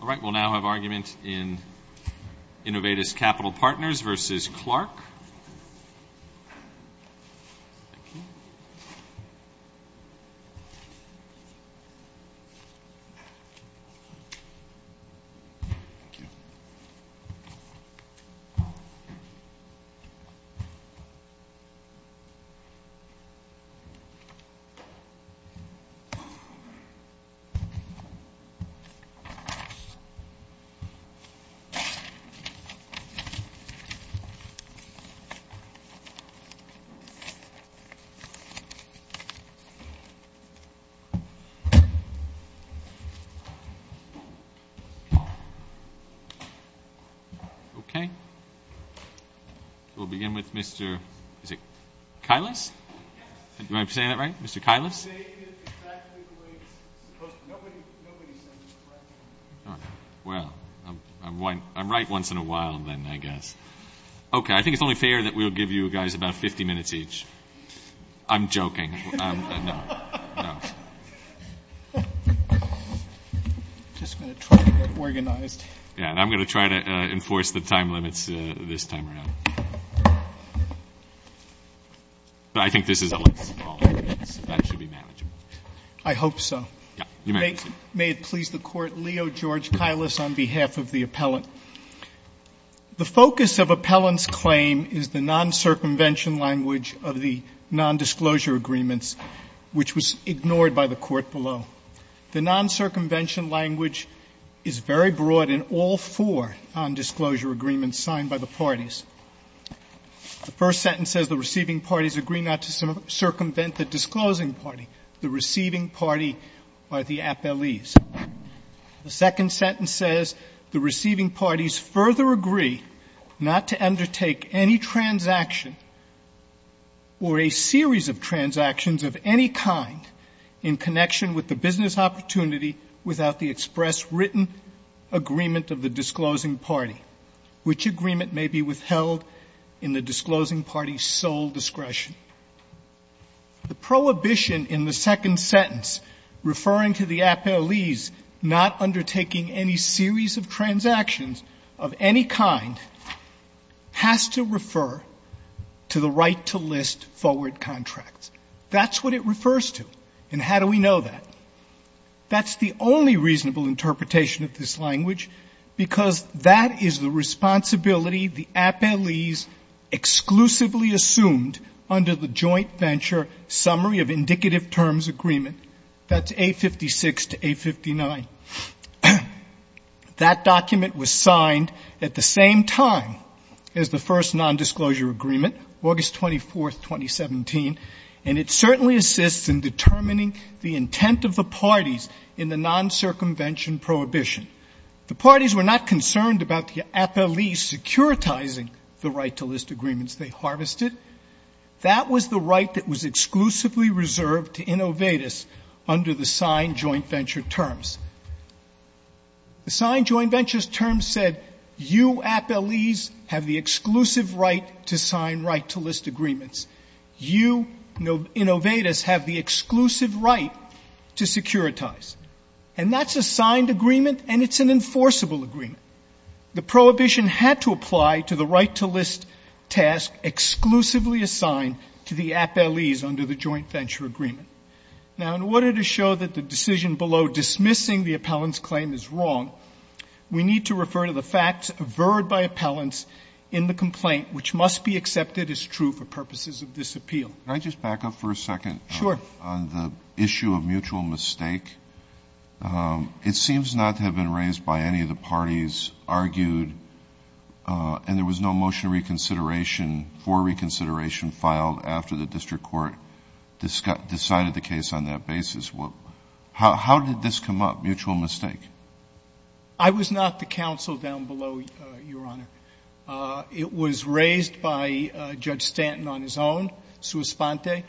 All right, we'll now have argument in Innovatus Capital Partners v. Clark. Okay. We'll begin with Mr. Kylus. Am I saying that right? Mr. Kylus? I'm right once in a while then, I guess. Okay, I think it's only fair that we'll give you guys about 50 minutes each. I'm joking. No, no. I'm just going to try to get organized. Yeah, and I'm going to try to enforce the time limits this time around. But I think this is a small case. That should be manageable. I hope so. Yeah, you may proceed. May it please the Court, Leo George Kylus on behalf of the appellant. The focus of appellant's claim is the non-circumvention language of the nondisclosure agreements, which was ignored by the Court below. The non-circumvention language is very broad in all four nondisclosure agreements signed by the parties. The first sentence says the receiving parties agree not to circumvent the disclosing party, the receiving party by the appellees. The second sentence says the receiving parties further agree not to undertake any transaction or a series of transactions of any kind in connection with the business opportunity without the express written agreement of the disclosing party, which agreement may be withheld in the disclosing party's sole discretion. The prohibition in the second sentence referring to the appellees not undertaking any series of transactions of any kind has to refer to the right to list forward contracts. That's what it refers to. And how do we know that? That's the only reasonable interpretation of this language, because that is the responsibility the appellees exclusively assumed under the Joint Venture Summary of Indicative Terms Agreement. That's A56 to A59. That document was signed at the same time as the first nondisclosure agreement, August 24th, 2017, and it certainly assists in determining the intent of the parties in the non-circumvention prohibition. The parties were not concerned about the appellees securitizing the right-to-list agreements they harvested. That was the right that was exclusively reserved to innovators under the signed joint venture terms. The signed joint venture terms said you appellees have the exclusive right to sign right-to-list agreements. You innovators have the exclusive right to securitize. And that's a signed agreement and it's an enforceable agreement. The prohibition had to apply to the right-to-list task exclusively assigned to the appellees under the joint venture agreement. Now, in order to show that the decision below dismissing the appellant's claim is wrong, we need to refer to the facts averred by appellants in the complaint, which must be accepted as true for purposes of this appeal. Can I just back up for a second? Sure. On the issue of mutual mistake, it seems not to have been raised by any of the parties argued, and there was no motion of reconsideration for reconsideration filed after the district court decided the case on that basis. How did this come up, mutual mistake? I was not the counsel down below, Your Honor. It was raised by Judge Stanton on his own, sua sponte.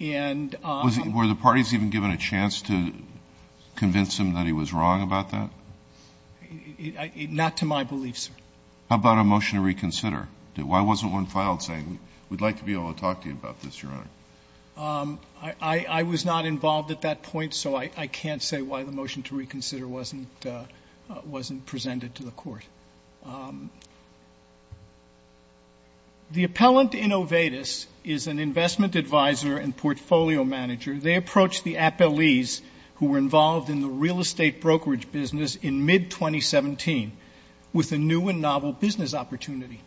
Were the parties even given a chance to convince him that he was wrong about that? Not to my belief, sir. How about a motion to reconsider? Why wasn't one filed saying, we'd like to be able to talk to you about this, Your Honor? I was not involved at that point, so I can't say why the motion to reconsider wasn't presented to the court. The appellant in OVEDIS is an investment advisor and portfolio manager. They approached the appellees who were involved in the real estate brokerage business in mid-2017 with a new and novel business opportunity.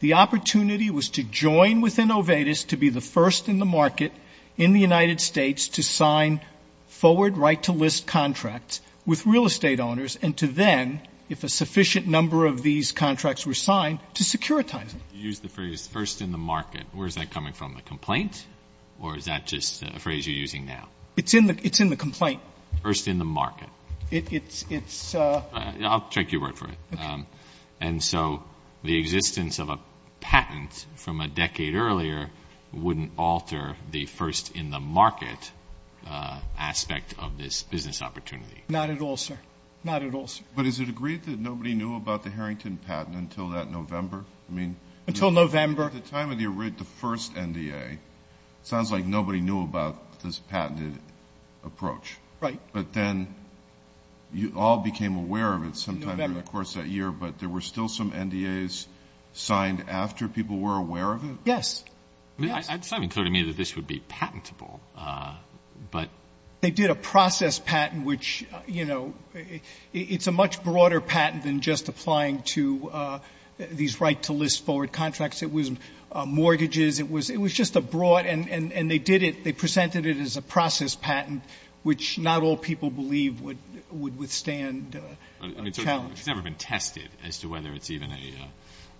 The opportunity was to join with OVEDIS to be the first in the market in the United States to sign forward right-to-list contracts with real estate owners and to then, if a sufficient number of these contracts were signed, to securitize them. You used the phrase, first in the market. Where is that coming from? The complaint? Or is that just a phrase you're using now? It's in the complaint. First in the market. It's a... I'll take your word for it. Okay. And so the existence of a patent from a decade earlier wouldn't alter the first in the market aspect of this business opportunity. Not at all, sir. Not at all, sir. But is it agreed that nobody knew about the Harrington patent until that November? I mean... Until November. At the time of the first NDA, it sounds like nobody knew about this patented approach. Right. But then you all became aware of it sometime during the course of that year, but there were still some NDAs signed after people were aware of it? Yes. Yes. I mean, it's not even clear to me that this would be patentable, but... They did a process patent, which, you know, it's a much broader patent than just applying to these right-to-list forward contracts. It was mortgages. It was just a broad, and they did it. They presented it as a process patent, which not all people believe would withstand a challenge. It's never been tested as to whether it's even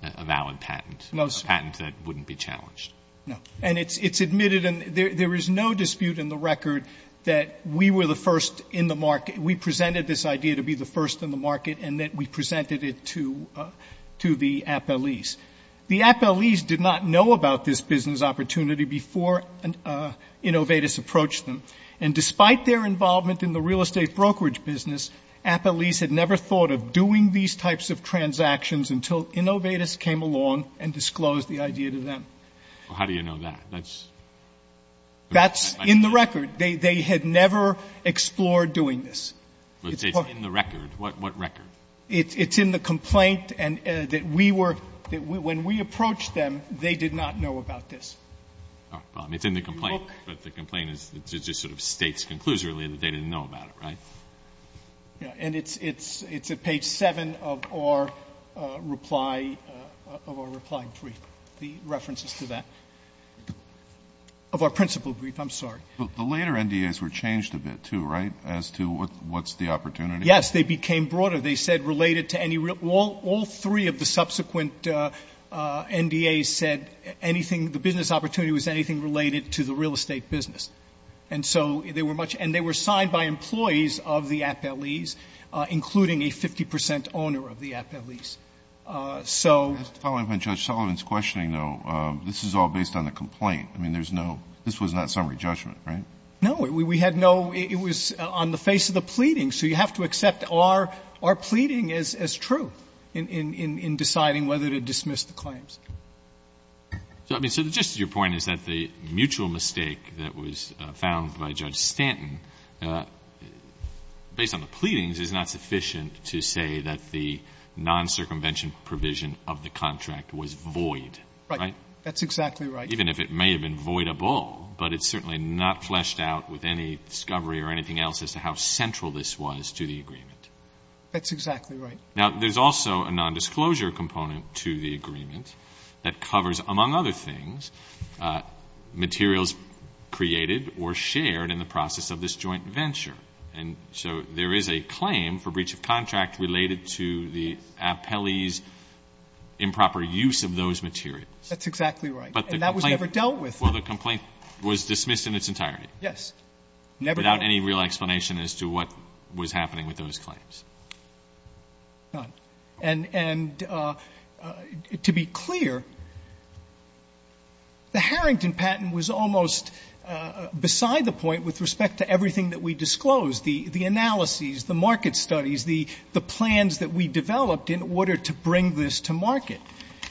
a valid patent. No, sir. A patent that wouldn't be challenged. No. And it's admitted, and there is no dispute in the record that we were the first in the market. We presented this idea to be the first in the market, and that we presented it to the appellees. The appellees did not know about this business opportunity before Innovatus approached them. And despite their involvement in the real estate brokerage business, appellees had never thought of doing these types of transactions until Innovatus came along and disclosed the idea to them. Well, how do you know that? That's... That's in the record. They had never explored doing this. But it's in the record. What record? It's in the complaint, and that we were, when we approached them, they did not know about this. Well, I mean, it's in the complaint, but the complaint is, it just sort of states conclusively that they didn't know about it, right? Yeah. And it's at page 7 of our reply, of our reply brief. The reference is to that. Of our principal brief, I'm sorry. The later NDAs were changed a bit, too, right? As to what's the opportunity? Yes, they became broader. They said related to any real, all three of the subsequent NDAs said anything, the business opportunity was anything related to the real estate business. And so they were much, and they were signed by employees of the appellees, including a 50 percent owner of the appellees. So. Following up on Judge Sullivan's questioning, though, this is all based on the complaint. I mean, there's no, this was not summary judgment, right? No. We had no, it was on the face of the pleading. So you have to accept our pleading as true in deciding whether to dismiss the claims. I mean, so just your point is that the mutual mistake that was found by Judge Stanton, based on the pleadings is not sufficient to say that the non-circumvention provision of the contract was void, right? Right. That's exactly right. Even if it may have been voidable, but it's certainly not fleshed out with any discovery or anything else as to how central this was to the agreement. That's exactly right. Now, there's also a nondisclosure component to the agreement that covers, among other things, materials created or shared in the process of this joint venture. And so there is a claim for breach of contract related to the appellee's improper use of those materials. That's exactly right. And that was never dealt with. Well, the complaint was dismissed in its entirety. Yes. Never dealt with. Without any real explanation as to what was happening with those claims. None. And to be clear, the Harrington patent was almost beside the point with respect to everything that we disclosed, the analyses, the market studies, the plans that we developed in order to bring this to market.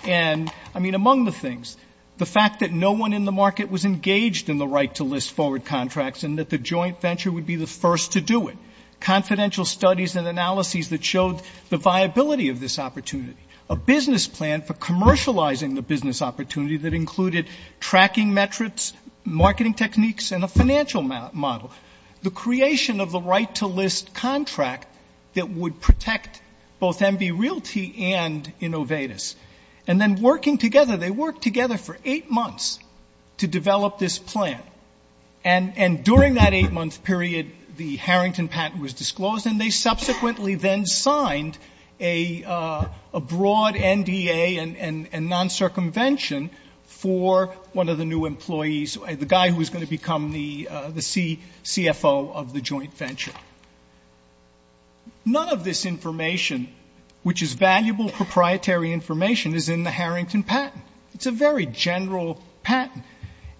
And, I mean, among the things, the fact that no one in the market was engaged in the right to list forward contracts and that the joint venture would be the first to do it. Confidential studies and analyses that showed the viability of this opportunity. A business plan for commercializing the business opportunity that included tracking metrics, marketing techniques, and a financial model. The creation of the right to list contract that would protect both MV Realty and Innovatus. And then working together, they worked together for eight months to develop this plan. And during that eight-month period, the Harrington patent was disclosed, and they subsequently then signed a broad NDA and non-circumvention for one of the new employees, the guy who was going to become the CFO of the joint venture. None of this information, which is valuable proprietary information, is in the Harrington patent. It's a very general patent.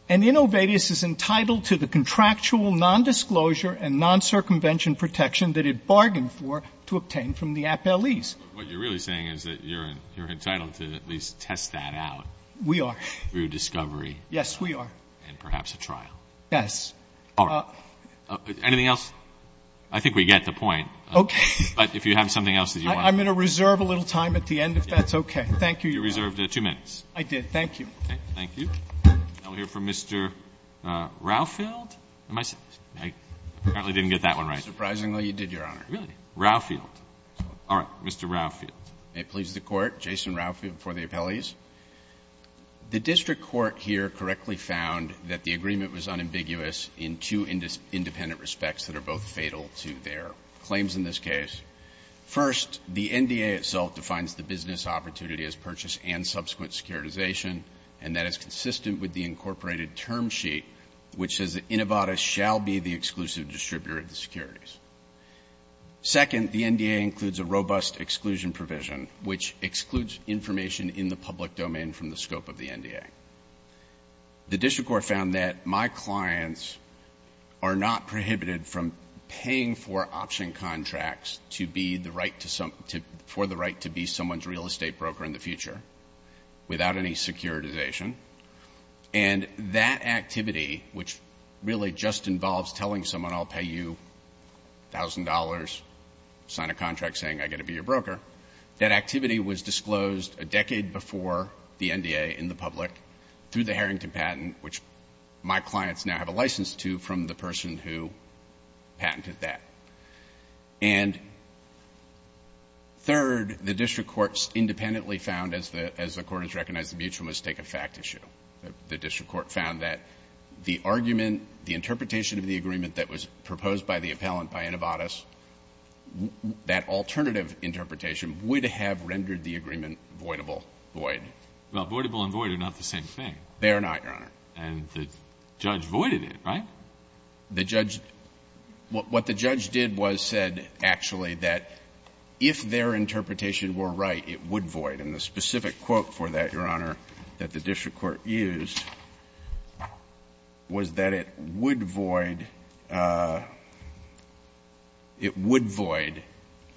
And Innovatus is entitled to the contractual nondisclosure and non-circumvention protection that it bargained for to obtain from the appellees. But what you're really saying is that you're entitled to at least test that out. We are. Through discovery. Yes, we are. And perhaps a trial. Yes. All right. Anything else? I think we get the point. Okay. But if you have something else that you want to say. I'm going to reserve a little time at the end, if that's okay. Thank you. You reserved two minutes. I did. Thank you. Okay. Thank you. Now we'll hear from Mr. Rauhfeld. I apparently didn't get that one right. Surprisingly, you did, Your Honor. Really? Rauhfeld. All right. Mr. Rauhfeld. May it please the Court. Jason Rauhfeld for the appellees. The district court here correctly found that the agreement was unambiguous in two independent respects that are both fatal to their claims in this case. First, the NDA itself defines the business opportunity as purchase and subsequent securitization, and that is consistent with the incorporated term sheet, which says that Innovata shall be the exclusive distributor of the securities. Second, the NDA includes a robust exclusion provision, which excludes information in the public domain from the scope of the NDA. The district court found that my clients are not prohibited from paying for option contracts for the right to be someone's real estate broker in the future without any securitization, and that activity, which really just involves telling someone I'll pay you $1,000, sign a contract saying I get to be your broker, that activity was disclosed a decade before the NDA in the public through the Harrington patent, which my clients now have a license to from the person who patented that. And third, the district court independently found, as the Court has recognized the mutual mistake, a fact issue. The district court found that the argument, the interpretation of the agreement that was proposed by the appellant by Innovatas, that alternative interpretation would have rendered the agreement voidable, void. Breyer. Well, voidable and void are not the same thing. They are not, Your Honor. And the judge voided it, right? The judge – what the judge did was said, actually, that if their interpretation were right, it would void. And the specific quote for that, Your Honor, that the district court used, was that it would void, it would void,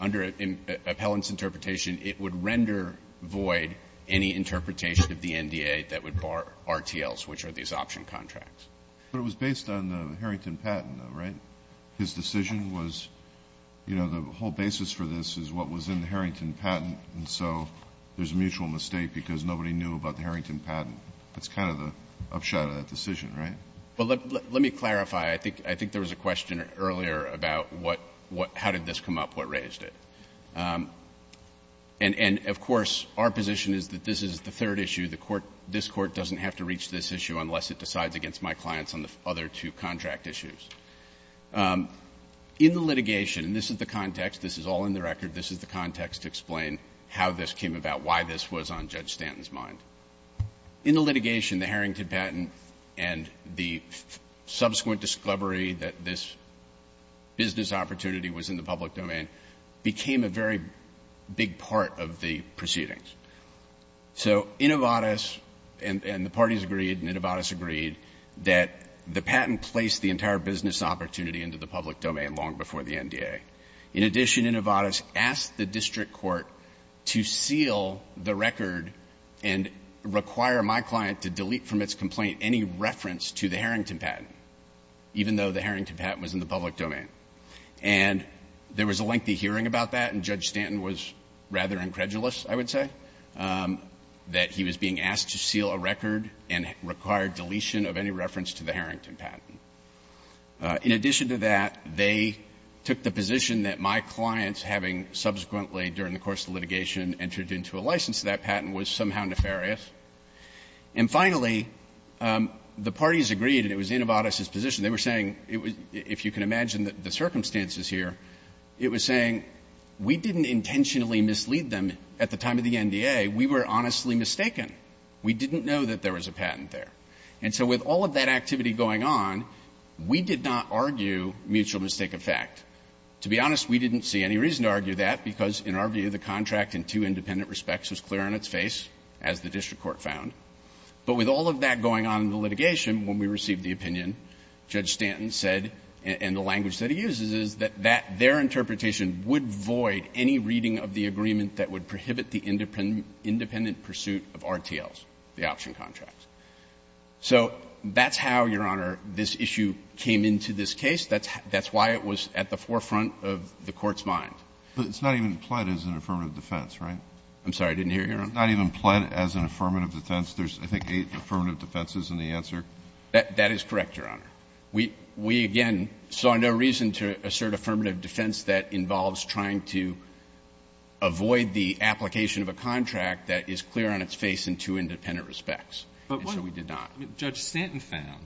under an appellant's interpretation, it would render void any interpretation of the NDA that would bar RTLs, which are these option contracts. But it was based on the Harrington patent, though, right? His decision was, you know, the whole basis for this is what was in the Harrington patent, and so there's a mutual mistake because nobody knew about the Harrington patent. That's kind of the upshot of that decision, right? Well, let me clarify. I think there was a question earlier about how did this come up, what raised it. And, of course, our position is that this is the third issue. The court – this court doesn't have to reach this issue unless it decides against my clients on the other two contract issues. In the litigation, and this is the context, this is all in the record, this is the context to explain how this came about, why this was on Judge Stanton's mind. In the litigation, the Harrington patent and the subsequent discovery that this business opportunity was in the public domain became a very big part of the proceedings. So Innovatis and the parties agreed, and Innovatis agreed, that the patent placed the entire business opportunity into the public domain long before the NDA. In addition, Innovatis asked the district court to seal the record and require my client to delete from its complaint any reference to the Harrington patent, even though the Harrington patent was in the public domain. And there was a lengthy hearing about that, and Judge Stanton was rather incredulous, I would say, that he was being asked to seal a record and require deletion of any reference to the Harrington patent. In addition to that, they took the position that my clients, having subsequently during the course of the litigation entered into a license to that patent, was somehow nefarious. And finally, the parties agreed, and it was Innovatis' position, they were saying, if you can imagine the circumstances here, it was saying, we didn't intentionally mislead them at the time of the NDA. We were honestly mistaken. We didn't know that there was a patent there. And so with all of that activity going on, we did not argue mutual mistake effect. To be honest, we didn't see any reason to argue that, because in our view the contract in two independent respects was clear on its face, as the district court found. But with all of that going on in the litigation, when we received the opinion, Judge Stanton said, and the language that he uses is that their interpretation would void any reading of the agreement that would prohibit the independent pursuit of RTLs, the option contracts. So that's how, Your Honor, this issue came into this case. That's why it was at the forefront of the Court's mind. But it's not even pled as an affirmative defense, right? I'm sorry, I didn't hear you, Your Honor. It's not even pled as an affirmative defense. There's, I think, eight affirmative defenses in the answer. That is correct, Your Honor. We, again, saw no reason to assert affirmative defense that involves trying to avoid the application of a contract that is clear on its face in two independent respects. And so we did not. Judge Stanton found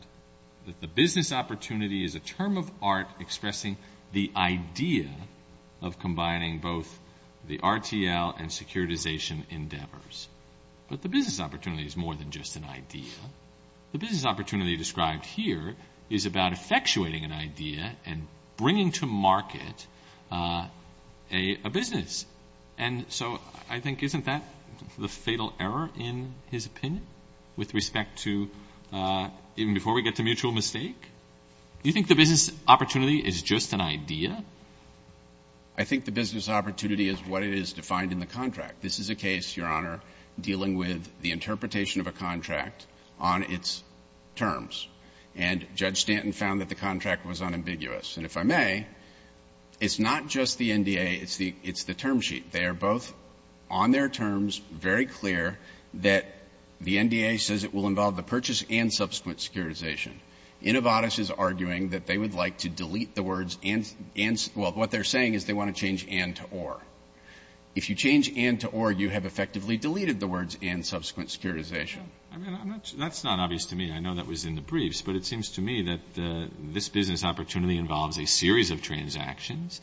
that the business opportunity is a term of art expressing the idea of combining both the RTL and securitization endeavors. But the business opportunity is more than just an idea. The business opportunity described here is about effectuating an idea and bringing to market a business. And so I think isn't that the fatal error, in his opinion, with respect to even before we get to mutual mistake? Do you think the business opportunity is just an idea? I think the business opportunity is what it is defined in the contract. This is a case, Your Honor, dealing with the interpretation of a contract on its terms, and Judge Stanton found that the contract was unambiguous. And if I may, it's not just the NDA. It's the term sheet. They are both on their terms, very clear, that the NDA says it will involve the purchase and subsequent securitization. Innovatis is arguing that they would like to delete the words and — well, what they're saying is they want to change and to or. If you change and to or, you have effectively deleted the words and subsequent securitization. I mean, I'm not — that's not obvious to me. I know that was in the briefs. But it seems to me that this business opportunity involves a series of transactions,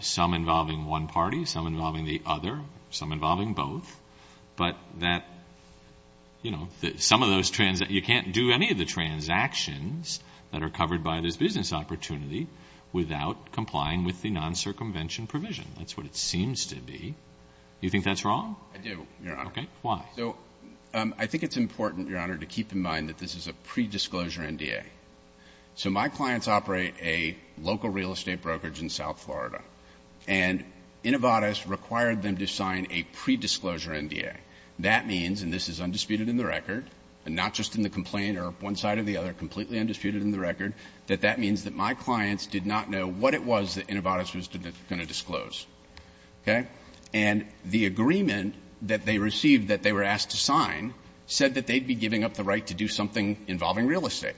some involving one party, some involving the other, some involving both. But that, you know, some of those — you can't do any of the transactions that are covered by this business opportunity without complying with the non-circumvention provision. That's what it seems to be. Do you think that's wrong? I do, Your Honor. Okay. So I think it's important, Your Honor, to keep in mind that this is a predisclosure NDA. So my clients operate a local real estate brokerage in South Florida. And Innovatis required them to sign a predisclosure NDA. That means — and this is undisputed in the record, and not just in the complaint or one side or the other, completely undisputed in the record — that that means that my clients did not know what it was that Innovatis was going to disclose. Okay? And the agreement that they received that they were asked to sign said that they'd be giving up the right to do something involving real estate.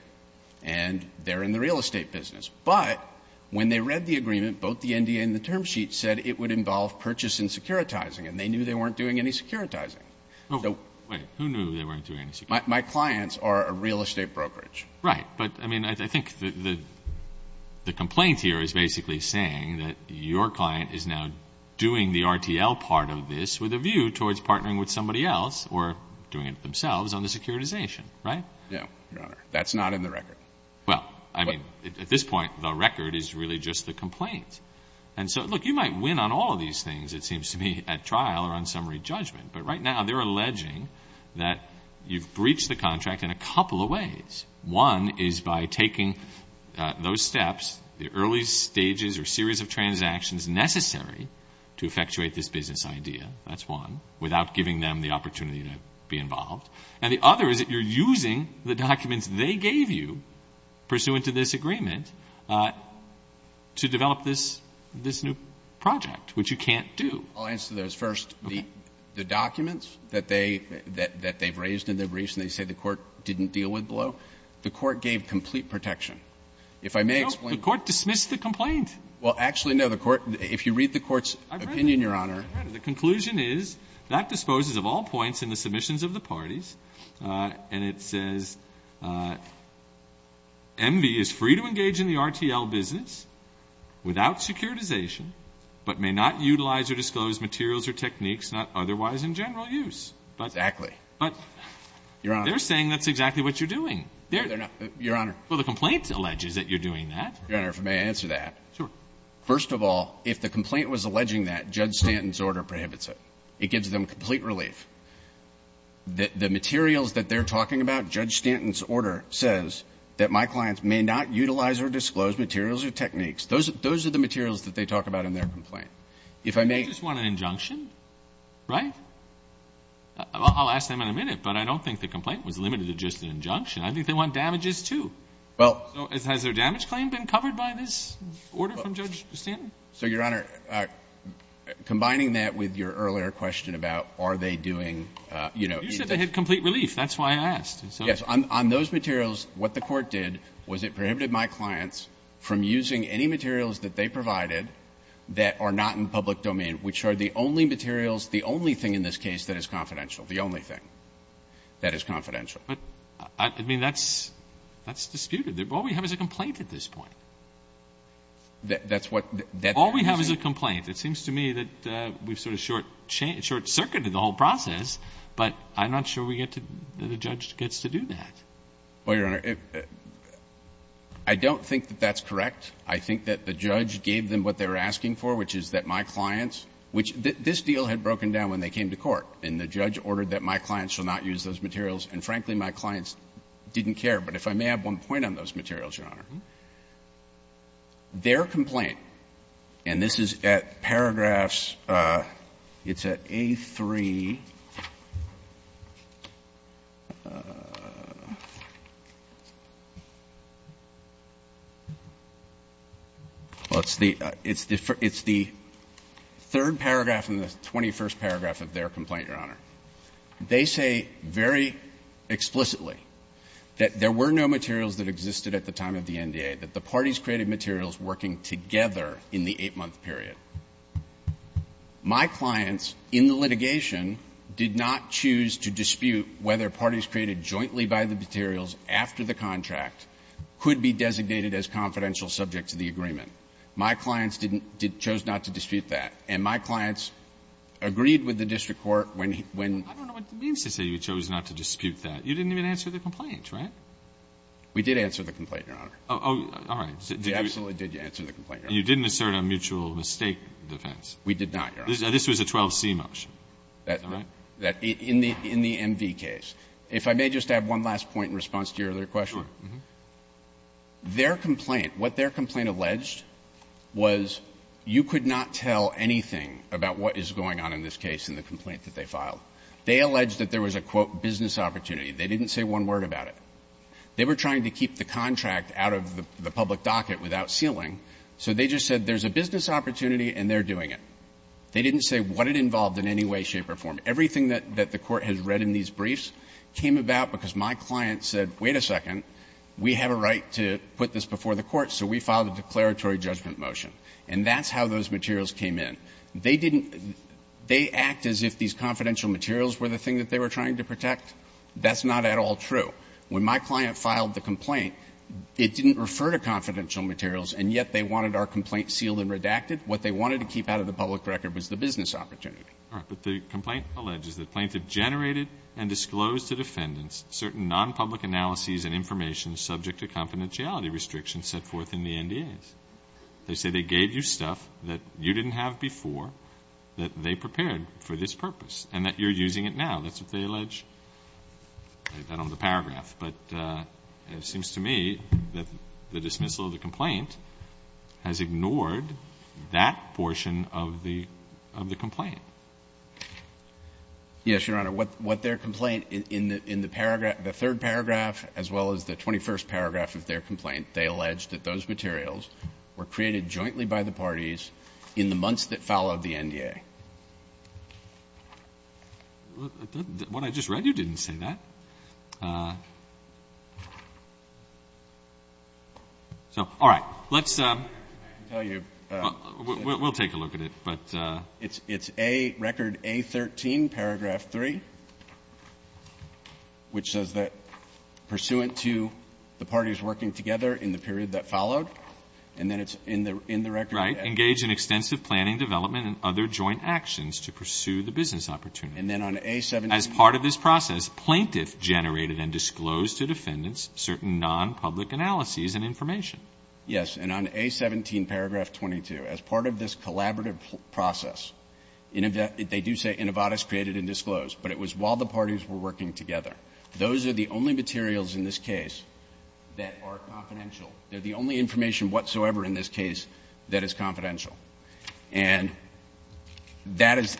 And they're in the real estate business. But when they read the agreement, both the NDA and the term sheet said it would involve purchase and securitizing. And they knew they weren't doing any securitizing. Wait. Who knew they weren't doing any securitizing? My clients are a real estate brokerage. Right. But, I mean, I think the complaint here is basically saying that your client is now doing the RTL part of this with a view towards partnering with somebody else or doing it themselves on the securitization, right? Yeah, Your Honor. That's not in the record. Well, I mean, at this point, the record is really just the complaint. And so, look, you might win on all of these things, it seems to me, at trial or on summary judgment. But right now they're alleging that you've breached the contract in a couple of ways. One is by taking those steps, the early stages or series of transactions necessary to effectuate this business idea. That's one. Without giving them the opportunity to be involved. And the other is that you're using the documents they gave you pursuant to this agreement to develop this new project, which you can't do. I'll answer those first. Okay. The documents that they've raised in their briefs and they say the court didn't deal with below, the court gave complete protection. If I may explain. No, the court dismissed the complaint. Well, actually, no. The court, if you read the court's opinion, Your Honor. I've read it. I've read it. The conclusion is that disposes of all points in the submissions of the parties. And it says MV is free to engage in the RTL business without securitization but may not utilize or disclose materials or techniques not otherwise in general Exactly. Your Honor. They're saying that's exactly what you're doing. Your Honor. Well, the complaint alleges that you're doing that. Your Honor, if I may answer that. Sure. First of all, if the complaint was alleging that, Judge Stanton's order prohibits it. It gives them complete relief. The materials that they're talking about, Judge Stanton's order, says that my clients may not utilize or disclose materials or techniques. Those are the materials that they talk about in their complaint. If I may. They just want an injunction, right? I'll ask them in a minute, but I don't think the complaint was limited to just an injunction. I think they want damages, too. Well. Has their damage claim been covered by this order from Judge Stanton? So, Your Honor, combining that with your earlier question about are they doing, you know, You said they had complete relief. That's why I asked. Yes. On those materials, what the court did was it prohibited my clients from using any materials that they provided that are not in the public domain, which are the only materials, the only thing in this case that is confidential, the only thing that is confidential. But, I mean, that's disputed. All we have is a complaint at this point. That's what that is. All we have is a complaint. It seems to me that we've sort of short circuited the whole process, but I'm not sure we get to the judge gets to do that. Well, Your Honor, I don't think that that's correct. I think that the judge gave them what they were asking for, which is that my clients which this deal had broken down when they came to court, and the judge ordered that my clients should not use those materials. And, frankly, my clients didn't care. But if I may have one point on those materials, Your Honor. Their complaint, and this is at paragraphs, it's at A3. Well, it's the third paragraph in the 21st paragraph of their complaint, Your Honor. They say very explicitly that there were no materials that existed at the time of the NDA, that the parties created materials working together in the 8-month period. My clients in the litigation did not choose to dispute whether parties created jointly by the materials after the contract could be designated as confidential subjects of the agreement. My clients didn't choose not to dispute that. And my clients agreed with the district court when he – when – I don't know what it means to say you chose not to dispute that. You didn't even answer the complaint, right? We did answer the complaint, Your Honor. Oh, all right. You absolutely did answer the complaint, Your Honor. You didn't assert a mutual mistake defense. We did not, Your Honor. This was a 12C motion. Is that right? In the MV case. If I may just add one last point in response to your earlier question. Sure. Their complaint, what their complaint alleged was you could not tell anything about what is going on in this case in the complaint that they filed. They alleged that there was a, quote, business opportunity. They didn't say one word about it. They were trying to keep the contract out of the public docket without sealing, so they just said there's a business opportunity and they're doing it. They didn't say what it involved in any way, shape, or form. Everything that the court has read in these briefs came about because my client said, wait a second, we have a right to put this before the court, so we filed a declaratory judgment motion. And that's how those materials came in. They didn't – they act as if these confidential materials were the thing that they were trying to protect. That's not at all true. When my client filed the complaint, it didn't refer to confidential materials, and yet they wanted our complaint sealed and redacted. What they wanted to keep out of the public record was the business opportunity. All right. But the complaint alleges that plaintiffs generated and disclosed to defendants certain non-public analyses and information subject to confidentiality restrictions set forth in the NDAs. They say they gave you stuff that you didn't have before, that they prepared for this purpose, and that you're using it now. That's what they allege. I don't have the paragraph. But it seems to me that the dismissal of the complaint has ignored that portion of the complaint. Yes, Your Honor. What their complaint in the third paragraph as well as the 21st paragraph of their complaint, they allege that those materials were created jointly by the parties in the months that followed the NDA. What I just read, you didn't say that. All right. We'll take a look at it. It's record A13, paragraph 3, which says that pursuant to the parties working together in the period that followed, and then it's in the record. Right. Engage in extensive planning, development, and other joint actions to pursue the business opportunity. And then on A17. As part of this process, plaintiff generated and disclosed to defendants certain non-public analyses and information. Yes. And on A17, paragraph 22, as part of this collaborative process, they do say innovatus created and disclosed. But it was while the parties were working together. Those are the only materials in this case that are confidential. They're the only information whatsoever in this case that is confidential. And that is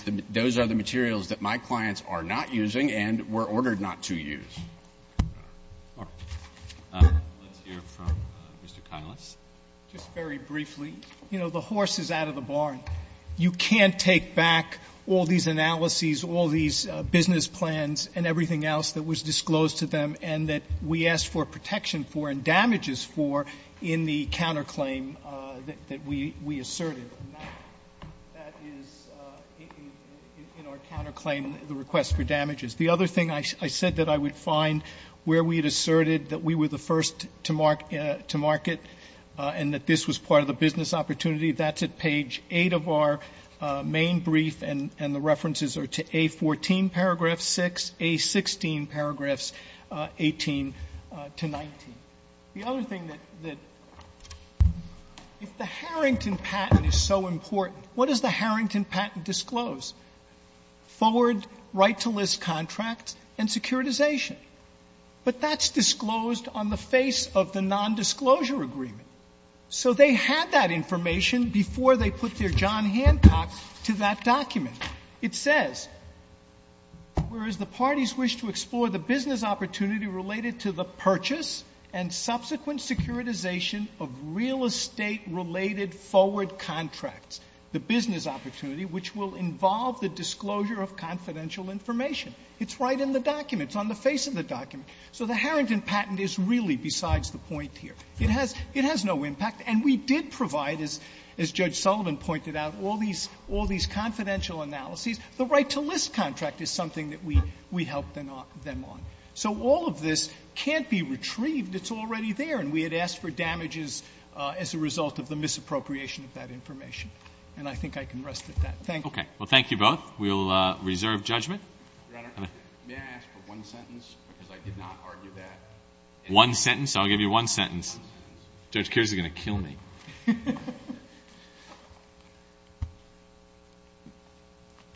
the — those are the materials that my clients are not using and were ordered not to use. All right. Mark. Let's hear from Mr. Kailas. Just very briefly, you know, the horse is out of the barn. You can't take back all these analyses, all these business plans and everything else that was disclosed to them and that we asked for protection for and damaged damages for in the counterclaim that we asserted. That is in our counterclaim, the request for damages. The other thing I said that I would find where we had asserted that we were the first to market and that this was part of the business opportunity, that's at page 8 of our main brief. And the references are to A14, paragraph 6, A16, paragraphs 18 to 19. The other thing that — if the Harrington patent is so important, what does the Harrington patent disclose? Forward right-to-list contracts and securitization. But that's disclosed on the face of the nondisclosure agreement. So they had that information before they put their John Hancock to that document. It says, whereas the parties wish to explore the business opportunity related to the purchase and subsequent securitization of real estate-related forward contracts, the business opportunity which will involve the disclosure of confidential information. It's right in the document. It's on the face of the document. So the Harrington patent is really besides the point here. It has no impact. And we did provide, as Judge Sullivan pointed out, all these confidential analyses. The right-to-list contract is something that we helped them on. So all of this can't be retrieved. It's already there. And we had asked for damages as a result of the misappropriation of that information. And I think I can rest at that. Thank you. Breyer. Okay. Well, thank you both. We'll reserve judgment. Roberts. May I ask for one sentence? Because I did not argue that. One sentence? I'll give you one sentence. One sentence. Judge Kears is going to kill me.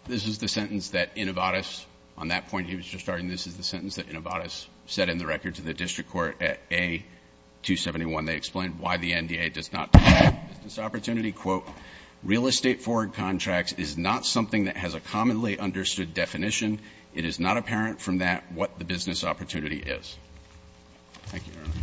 This is the sentence that Innovatus, on that point he was just starting, this is the sentence that Innovatus set in the record to the district court at A-271. They explained why the NDA does not talk about business opportunity. Quote, real estate forward contracts is not something that has a commonly understood definition. It is not apparent from that what the business opportunity is. Thank you, Your Honor.